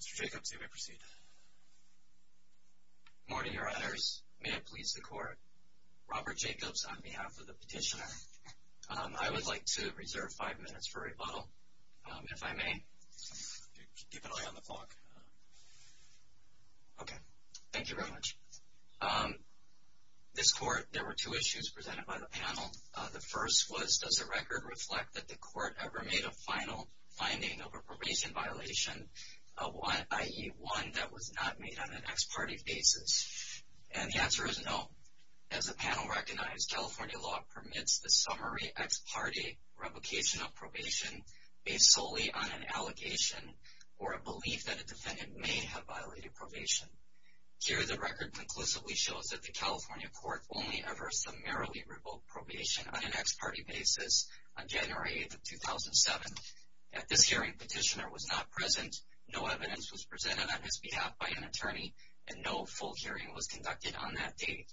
Mr. Jacobs, you may proceed. Good morning, Your Honors. May it please the Court, Robert Jacobs on behalf of the petitioner. I would like to reserve five minutes for rebuttal, if I may. Keep an eye on the clock. Okay. Thank you very much. This Court, there were two issues presented by the panel. The first was, does the record reflect that the Court ever made a final finding of a probation violation, i.e., one that was not made on an ex parte basis? And the answer is no. As the panel recognized, California law permits the summary ex parte replication of probation based solely on an allegation or a belief that a defendant may have violated probation. Here, the record conclusively shows that the California Court only ever summarily revoked probation on an ex parte basis on January 8th of 2007. At this hearing, the petitioner was not present, no evidence was presented on his behalf by an attorney, and no full hearing was conducted on that date.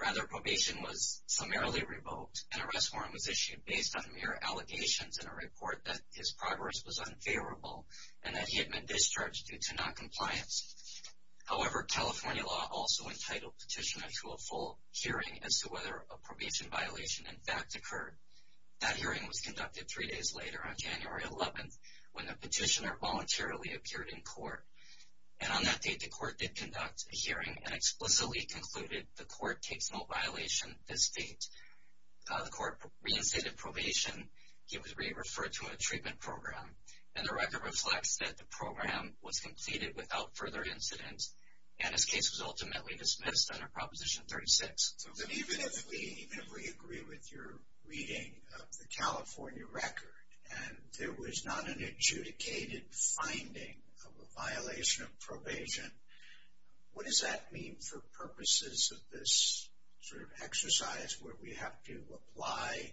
Rather, probation was summarily revoked, and an arrest warrant was issued based on mere allegations in a report that his progress was unfavorable and that he had been discharged due to noncompliance. However, California law also entitled petitioner to a full hearing as to whether a probation violation in fact occurred. That hearing was conducted three days later on January 11th, when the petitioner voluntarily appeared in court. And on that date, the Court did conduct a hearing and explicitly concluded the Court takes no violation this date. The Court reinstated probation. He was re-referred to a treatment program. And the record reflects that the program was completed without further incidents, and his case was ultimately dismissed under Proposition 36. So even if we agree with your reading of the California record, and there was not an adjudicated finding of a violation of probation, what does that mean for purposes of this sort of exercise where we have to apply,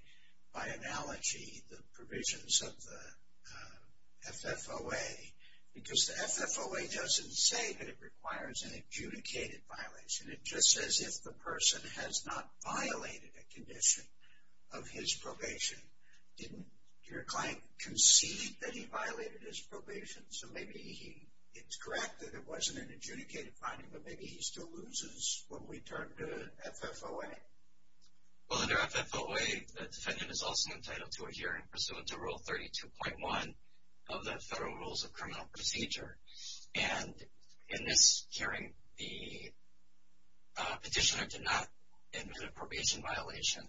by analogy, the provisions of the FFOA? Because the FFOA doesn't say that it requires an adjudicated violation. It just says if the person has not violated a condition of his probation. Didn't your client concede that he violated his probation? So maybe it's correct that it wasn't an adjudicated finding, but maybe he still loses when we turn to FFOA. Well, under FFOA, the defendant is also entitled to a hearing pursuant to Rule 32.1 of the Federal Rules of Criminal Procedure. And in this hearing, the petitioner did not admit a probation violation.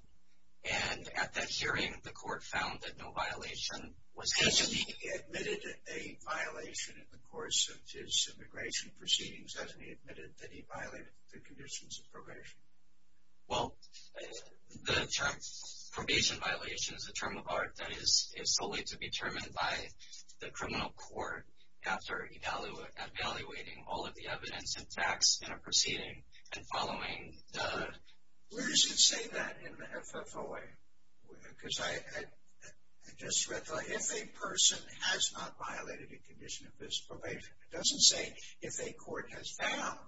And at that hearing, the Court found that no violation was considered. Has he admitted a violation in the course of his immigration proceedings? Has he admitted that he violated the conditions of probation? Well, the term probation violation is a term of art that is solely to be determined by the criminal court after evaluating all of the evidence and facts in a proceeding and following the… Where does it say that in the FFOA? Because I just read the, if a person has not violated a condition of his probation. It doesn't say if a court has found,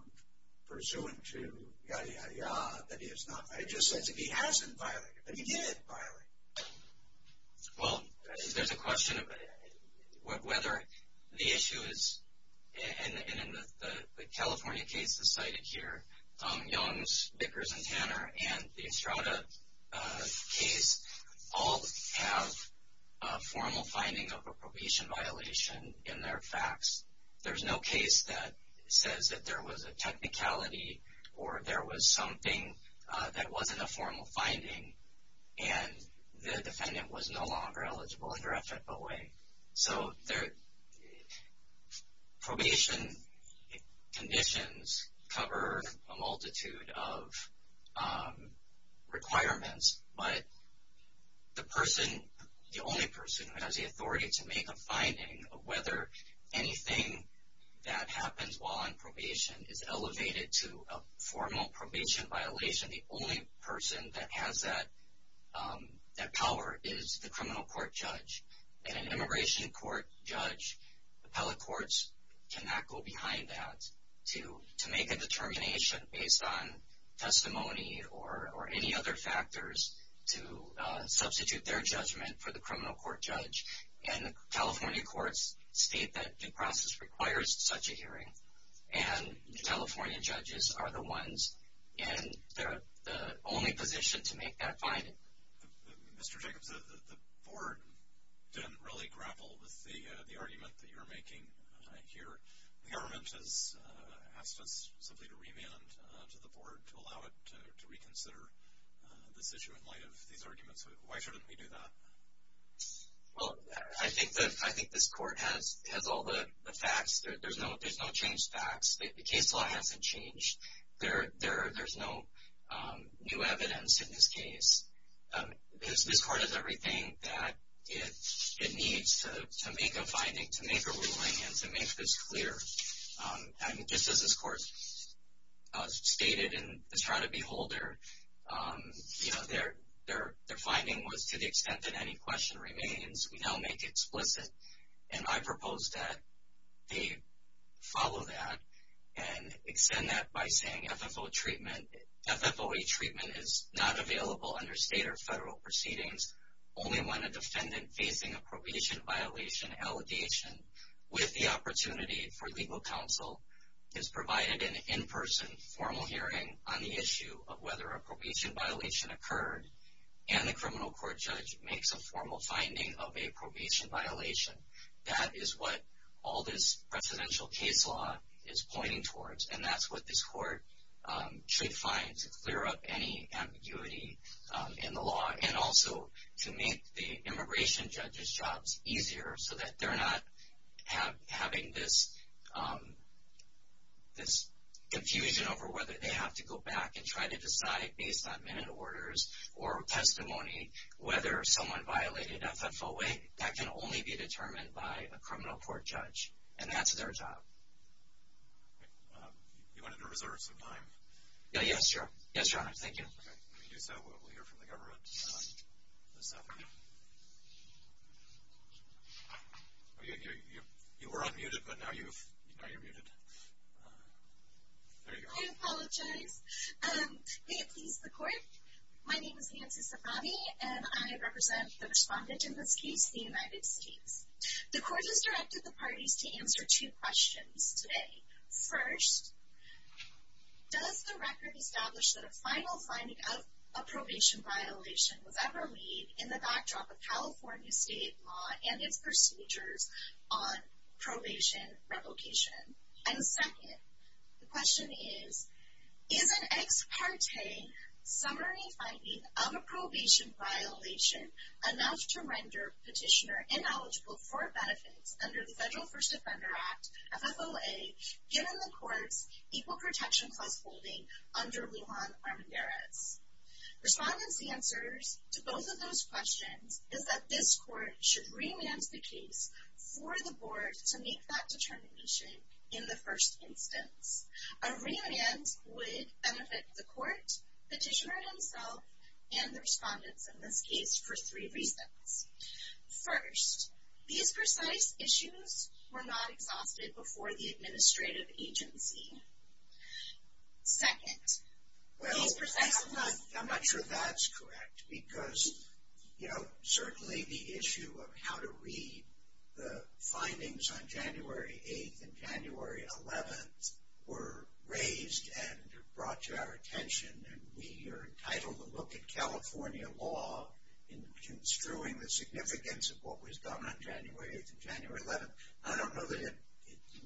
pursuant to yada, yada, yada, that he has not, it just says if he hasn't violated, that he did violate. Well, there's a question of whether the issue is, and the California case is cited here, Young's, Vickers, and Tanner, and the Estrada case, all have a formal finding of a probation violation in their facts. There's no case that says that there was a technicality or there was something that wasn't a formal finding, and the defendant was no longer eligible under FFOA. So, probation conditions cover a multitude of requirements, but the person, the only person who has the authority to make a finding of whether anything that happens while on probation is elevated to a formal probation violation, the only person that has that power is the criminal court judge. And an immigration court judge, appellate courts cannot go behind that to make a determination based on testimony or any other factors to substitute their judgment for the criminal court judge. And the California courts state that due process requires such a hearing, and the California judges are the ones and the only position to make that finding. Mr. Jacobs, the board didn't really grapple with the argument that you're making here. The government has asked us simply to remand to the board to allow it to reconsider this issue in light of these arguments. Why shouldn't we do that? Well, I think this court has all the facts. There's no changed facts. The case law hasn't changed. There's no new evidence in this case. This court has everything that it needs to make a finding, to make a ruling, and to make this clear. And just as this court stated in the trial of Beholder, their finding was to the extent that any question remains, we now make it explicit. And I propose that they follow that and extend that by saying FFOA treatment is not available under state or federal proceedings. Only when a defendant facing a probation violation allegation, with the opportunity for legal counsel, is provided an in-person formal hearing on the issue of whether a probation violation occurred, and the criminal court judge makes a formal finding of a probation violation. That is what all this presidential case law is pointing towards, and that's what this court should find to clear up any ambiguity in the law, and also to make the immigration judge's jobs easier, so that they're not having this confusion over whether they have to go back and try to decide based on minute orders or testimony whether someone violated FFOA. That can only be determined by a criminal court judge, and that's their job. You wanted to reserve some time. Yes, Your Honor. Thank you. If you do so, we'll hear from the government this afternoon. You were unmuted, but now you're muted. There you go. I apologize. May it please the court? My name is Nancy Safavi, and I represent the respondent in this case, the United States. The court has directed the parties to answer two questions today. First, does the record establish that a final finding of a probation violation was ever laid in the backdrop of California state law and its procedures on probation replication? And second, the question is, is an ex parte summary finding of a probation violation enough to render a petitioner ineligible for benefits under the Federal First Offender Act, FFOA, given the court's Equal Protection Clause holding under Lujan Armendariz? Respondents' answers to both of those questions is that this court should remand the case for the board to make that determination in the first instance. A remand would benefit the court, petitioner himself, and the respondents in this case for three reasons. First, these precise issues were not exhausted before the administrative agency. Second, these precise issues... Well, I'm not sure that's correct, because, you know, certainly the issue of how to read the findings on January 8th and January 11th were raised and brought to our attention, and we are entitled to look at California law in construing the significance of what was done on January 8th and January 11th. I don't know that it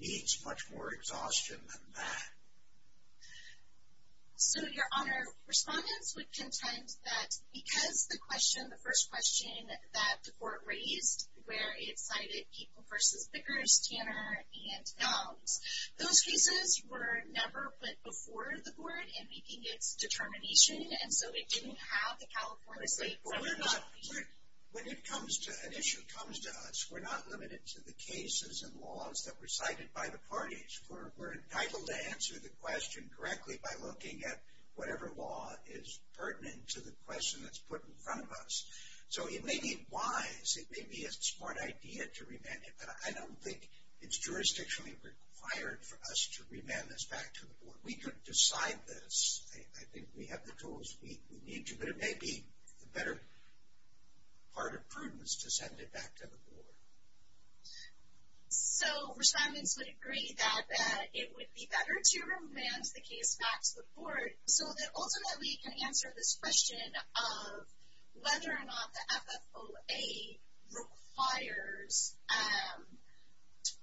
needs much more exhaustion than that. So, Your Honor, respondents would contend that because the question, the first question that the court raised, where it cited People v. Bickers, Tanner, and Gumbs, those cases were never put before the board in making its determination, and so it didn't have the California State... When an issue comes to us, we're not limited to the cases and laws that were cited by the parties. We're entitled to answer the question correctly by looking at whatever law is pertinent to the question that's put in front of us. So it may be wise, it may be a smart idea to remand it, but I don't think it's jurisdictionally required for us to remand this back to the board. We could decide this. I think we have the tools we need to, but it may be the better part of prudence to send it back to the board. So respondents would agree that it would be better to remand the case back to the board so that ultimately we can answer this question of whether or not the FFOA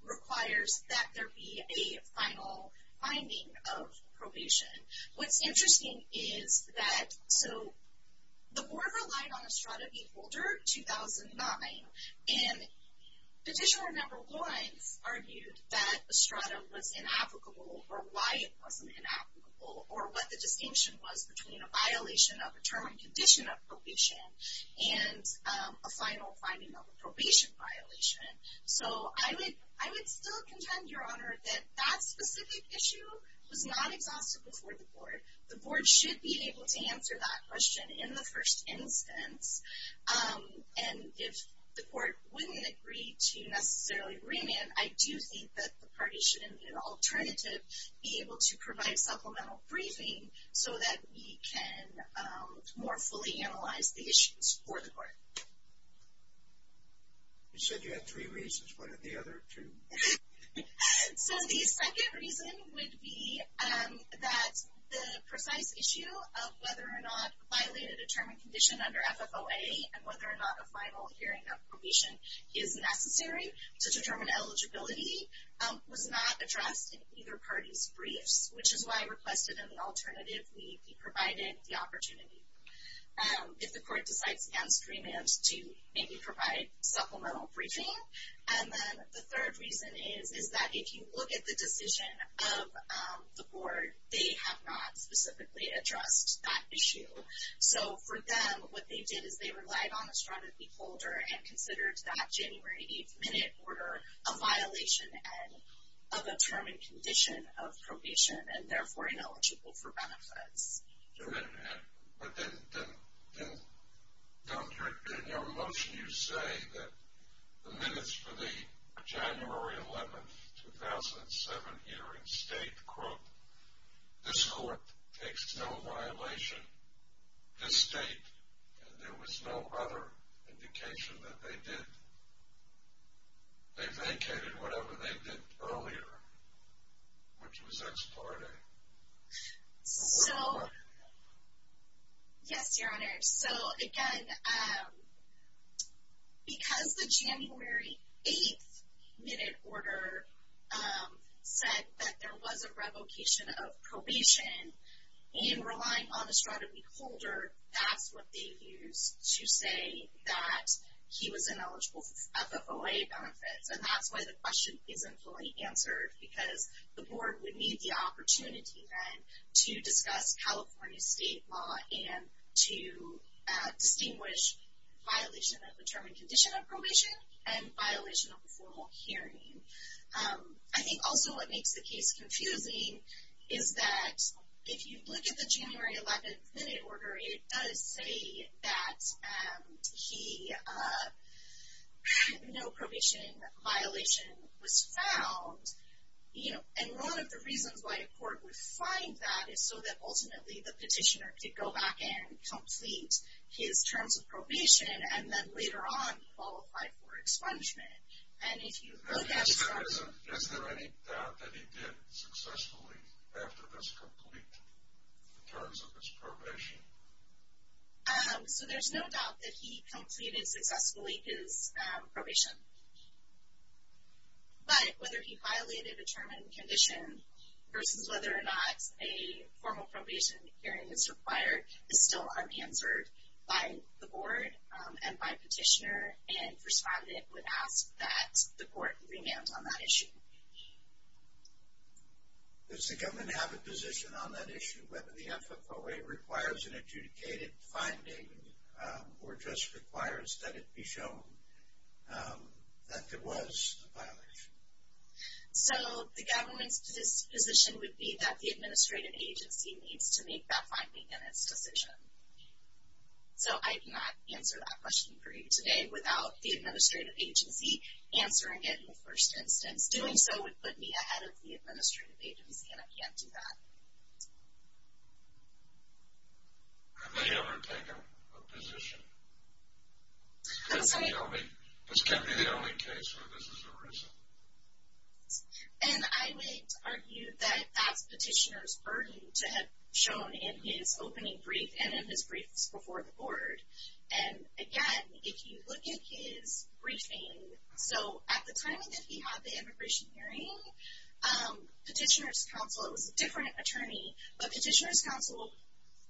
requires that there be a final finding of probation. What's interesting is that... So the board relied on Estrada v. Holder 2009, and Petitioner No. 1 argued that Estrada was inapplicable, or why it wasn't inapplicable, or what the distinction was between a violation of a term and condition of probation and a final finding of a probation violation. So I would still contend, Your Honor, that that specific issue was not exhausted before the board. The board should be able to answer that question in the first instance. And if the court wouldn't agree to necessarily remand, I do think that the party should, in an alternative, be able to provide supplemental briefing so that we can more fully analyze the issues for the court. You said you had three reasons. What are the other two? So the second reason would be that the precise issue of whether or not violating a term and condition under FFOA and whether or not a final hearing of probation is necessary to determine eligibility was not addressed in either party's briefs, which is why I requested in the alternative we be provided the opportunity. If the court decides against remand, to maybe provide supplemental briefing. And then the third reason is that if you look at the decision of the board, they have not specifically addressed that issue. So for them, what they did is they relied on Estrada B. Polder and considered that January 8th minute order a violation of a term and condition of probation and therefore ineligible for benefits. But then in your motion you say that the minutes for the January 11th, 2007 hearing state, quote, this court takes no violation, this state, and there was no other indication that they did. They vacated whatever they did earlier, which was ex parte. So, yes, Your Honor. So again, because the January 8th minute order said that there was a revocation of probation and relying on Estrada B. Polder, that's what they used to say that he was ineligible for FFOA benefits. And that's why the question isn't fully answered, because the board would need the opportunity then to discuss California state law and to distinguish violation of a term and condition of probation and violation of a formal hearing. I think also what makes the case confusing is that if you look at the January 11th minute order, it does say that no probation violation was found. And one of the reasons why a court would find that is so that ultimately the petitioner could go back and complete his terms of probation and then later on qualify for expungement. At this present, is there any doubt that he did successfully after this complete terms of his probation? So there's no doubt that he completed successfully his probation. But whether he violated a term and condition versus whether or not a formal probation hearing is required is still unanswered by the board and by petitioner. And First Amendment would ask that the court remand on that issue. Does the government have a position on that issue, whether the FFOA requires an adjudicated finding or just requires that it be shown that there was a violation? So the government's position would be that the administrative agency needs to make that finding in its decision. So I cannot answer that question for you today without the administrative agency answering it in the first instance. Doing so would put me ahead of the administrative agency, and I can't do that. Have they ever taken a position? This can't be the only case where this is a reason. And I would argue that that's petitioner's burden to have shown in his opening brief and in his briefs before the board. And again, if you look at his briefing, so at the time that he had the immigration hearing, petitioner's counsel, it was a different attorney, but petitioner's counsel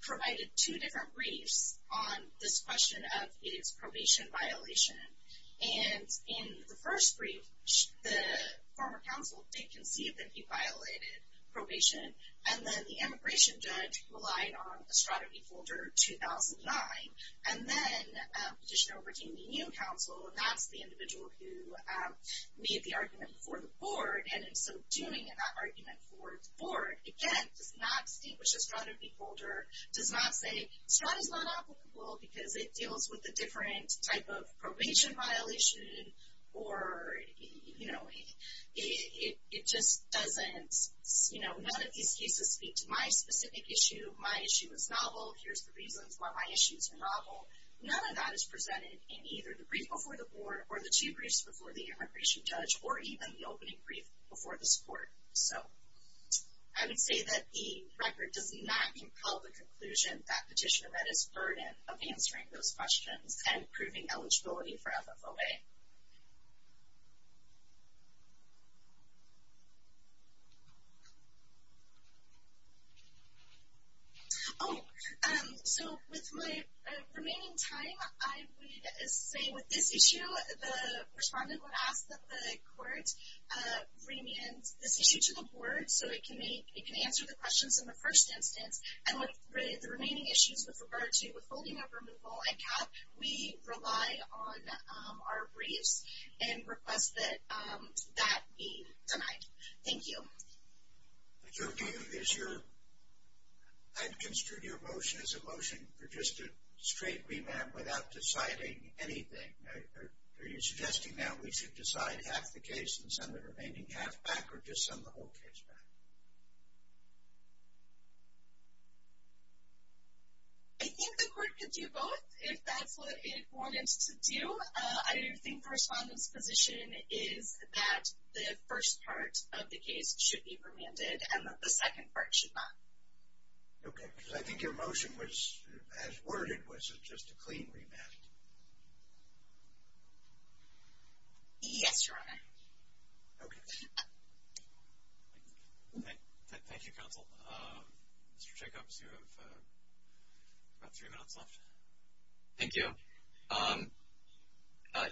provided two different briefs on this question of his probation violation. And in the first brief, the former counsel did concede that he violated probation, and then the immigration judge relied on a strategy folder 2009. And then petitioner obtained a new counsel, and that's the individual who made the argument before the board, and in so doing, in that argument before the board, again, does not distinguish a strategy folder, does not say strategy's not applicable because it deals with a different type of probation violation, or it just doesn't, you know, none of these cases speak to my specific issue. My issue is novel. Here's the reasons why my issues are novel. None of that is presented in either the brief before the board or the two briefs before the immigration judge or even the opening brief before this board. So I would say that the record does not compel the conclusion that petitioner read his burden of answering those questions and proving eligibility for FFOA. Oh, so with my remaining time, I would say with this issue, the respondent would ask that the court bring in this issue to the board so it can answer the questions in the first instance. And with the remaining issues with regard to withholding of removal and cap, we rely on our briefs and request that that be denied. Thank you. Mr. O'Keefe, I've construed your motion as a motion for just a straight remand without deciding anything. Are you suggesting that we should decide half the case and send the remaining half back or just send the whole case back? I think the court could do both if that's what it wanted to do. I think the respondent's position is that the first part of the case should be remanded and that the second part should not. Okay, because I think your motion as worded was just a clean remand. Yes, Your Honor. Thank you, Counsel. Mr. Jacobs, you have about three minutes left. Thank you.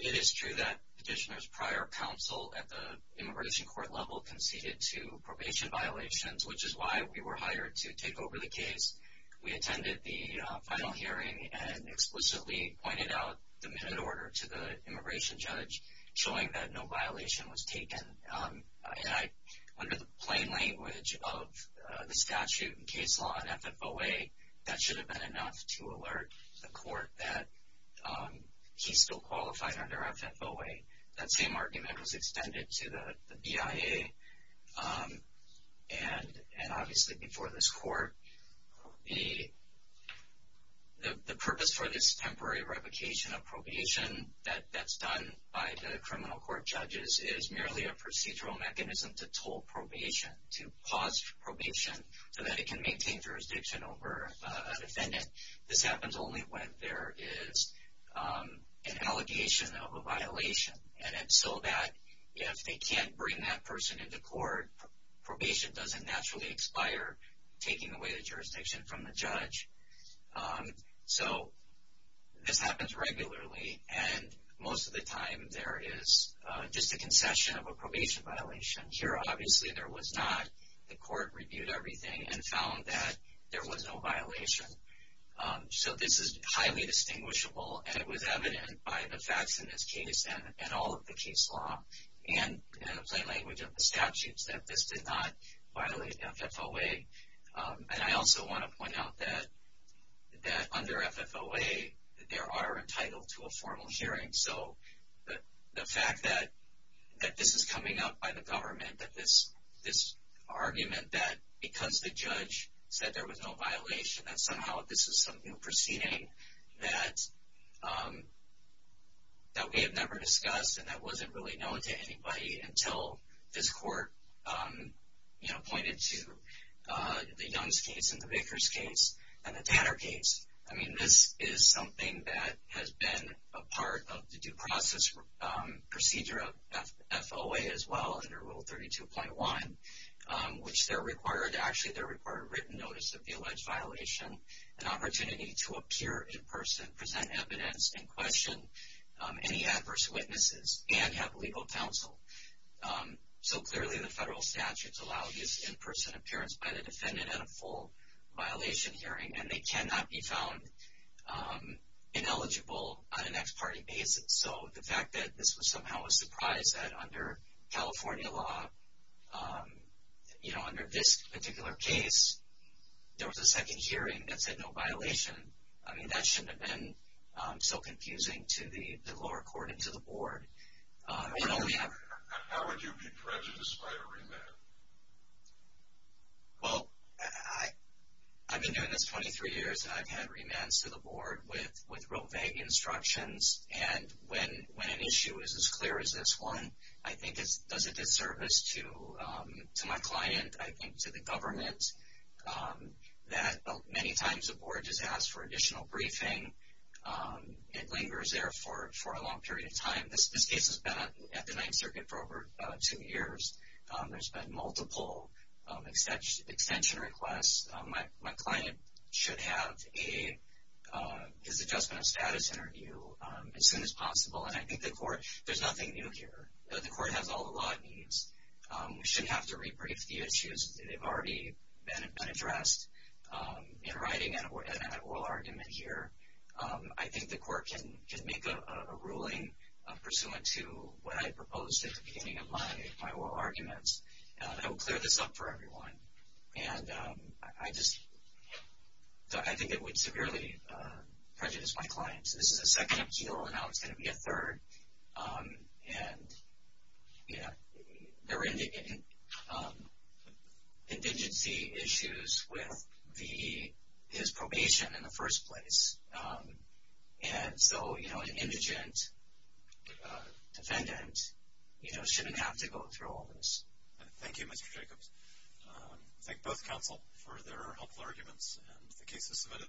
It is true that Petitioner's prior counsel at the immigration court level conceded to probation violations, which is why we were hired to take over the case. We attended the final hearing and explicitly pointed out the minute order to the immigration judge, showing that no violation was taken. Under the plain language of the statute and case law in FFOA, that should have been enough to alert the court that he's still qualified under FFOA. That same argument was extended to the BIA and obviously before this court. The purpose for this temporary revocation of probation that's done by the criminal court judges is merely a procedural mechanism to toll probation, to pause probation, so that it can maintain jurisdiction over a defendant. This happens only when there is an allegation of a violation. And so that if they can't bring that person into court, probation doesn't naturally expire, taking away the jurisdiction from the judge. So this happens regularly, and most of the time there is just a concession of a probation violation. Here, obviously, there was not. The court reviewed everything and found that there was no violation. So this is highly distinguishable, and it was evident by the facts in this case and all of the case law and in the plain language of the statutes that this did not violate FFOA. And I also want to point out that under FFOA, there are entitled to a formal hearing. So the fact that this is coming up by the government, that this argument that because the judge said there was no violation, that somehow this is some new proceeding that we have never discussed and that wasn't really known to anybody until this court pointed to the Young's case and the Baker's case and the Tanner case. I mean, this is something that has been a part of the due process procedure of FFOA as well, under Rule 32.1, which they're required to actually, they're required to written notice of the alleged violation, an opportunity to appear in person, present evidence, and question any adverse witnesses, and have legal counsel. So clearly the federal statutes allow this in-person appearance by the defendant at a full violation hearing, and they cannot be found ineligible on an ex parte basis. So the fact that this was somehow a surprise that under California law, you know, under this particular case, there was a second hearing that said no violation, I mean, that shouldn't have been so confusing to the lower court and to the board. How would you be prejudiced by a remand? Well, I've been doing this 23 years, and I've had remands to the board with real vague instructions, and when an issue is as clear as this one, I think it does a disservice to my client, I think to the government, that many times the board just asks for additional briefing. It lingers there for a long period of time. This case has been at the Ninth Circuit for over two years. There's been multiple extension requests. My client should have his adjustment of status interview as soon as possible, and I think the court, there's nothing new here. The court has all the law it needs. We shouldn't have to rebrief the issues. They've already been addressed in writing and at oral argument here. I think the court can make a ruling pursuant to what I proposed at the beginning of my oral arguments. I will clear this up for everyone, and I just think it would severely prejudice my clients. This is a second appeal, and now it's going to be a third, and there are indigency issues with his probation in the first place, and so an indigent defendant shouldn't have to go through all this. Thank you, Mr. Jacobs. Thank both counsel for their helpful arguments and the cases submitted.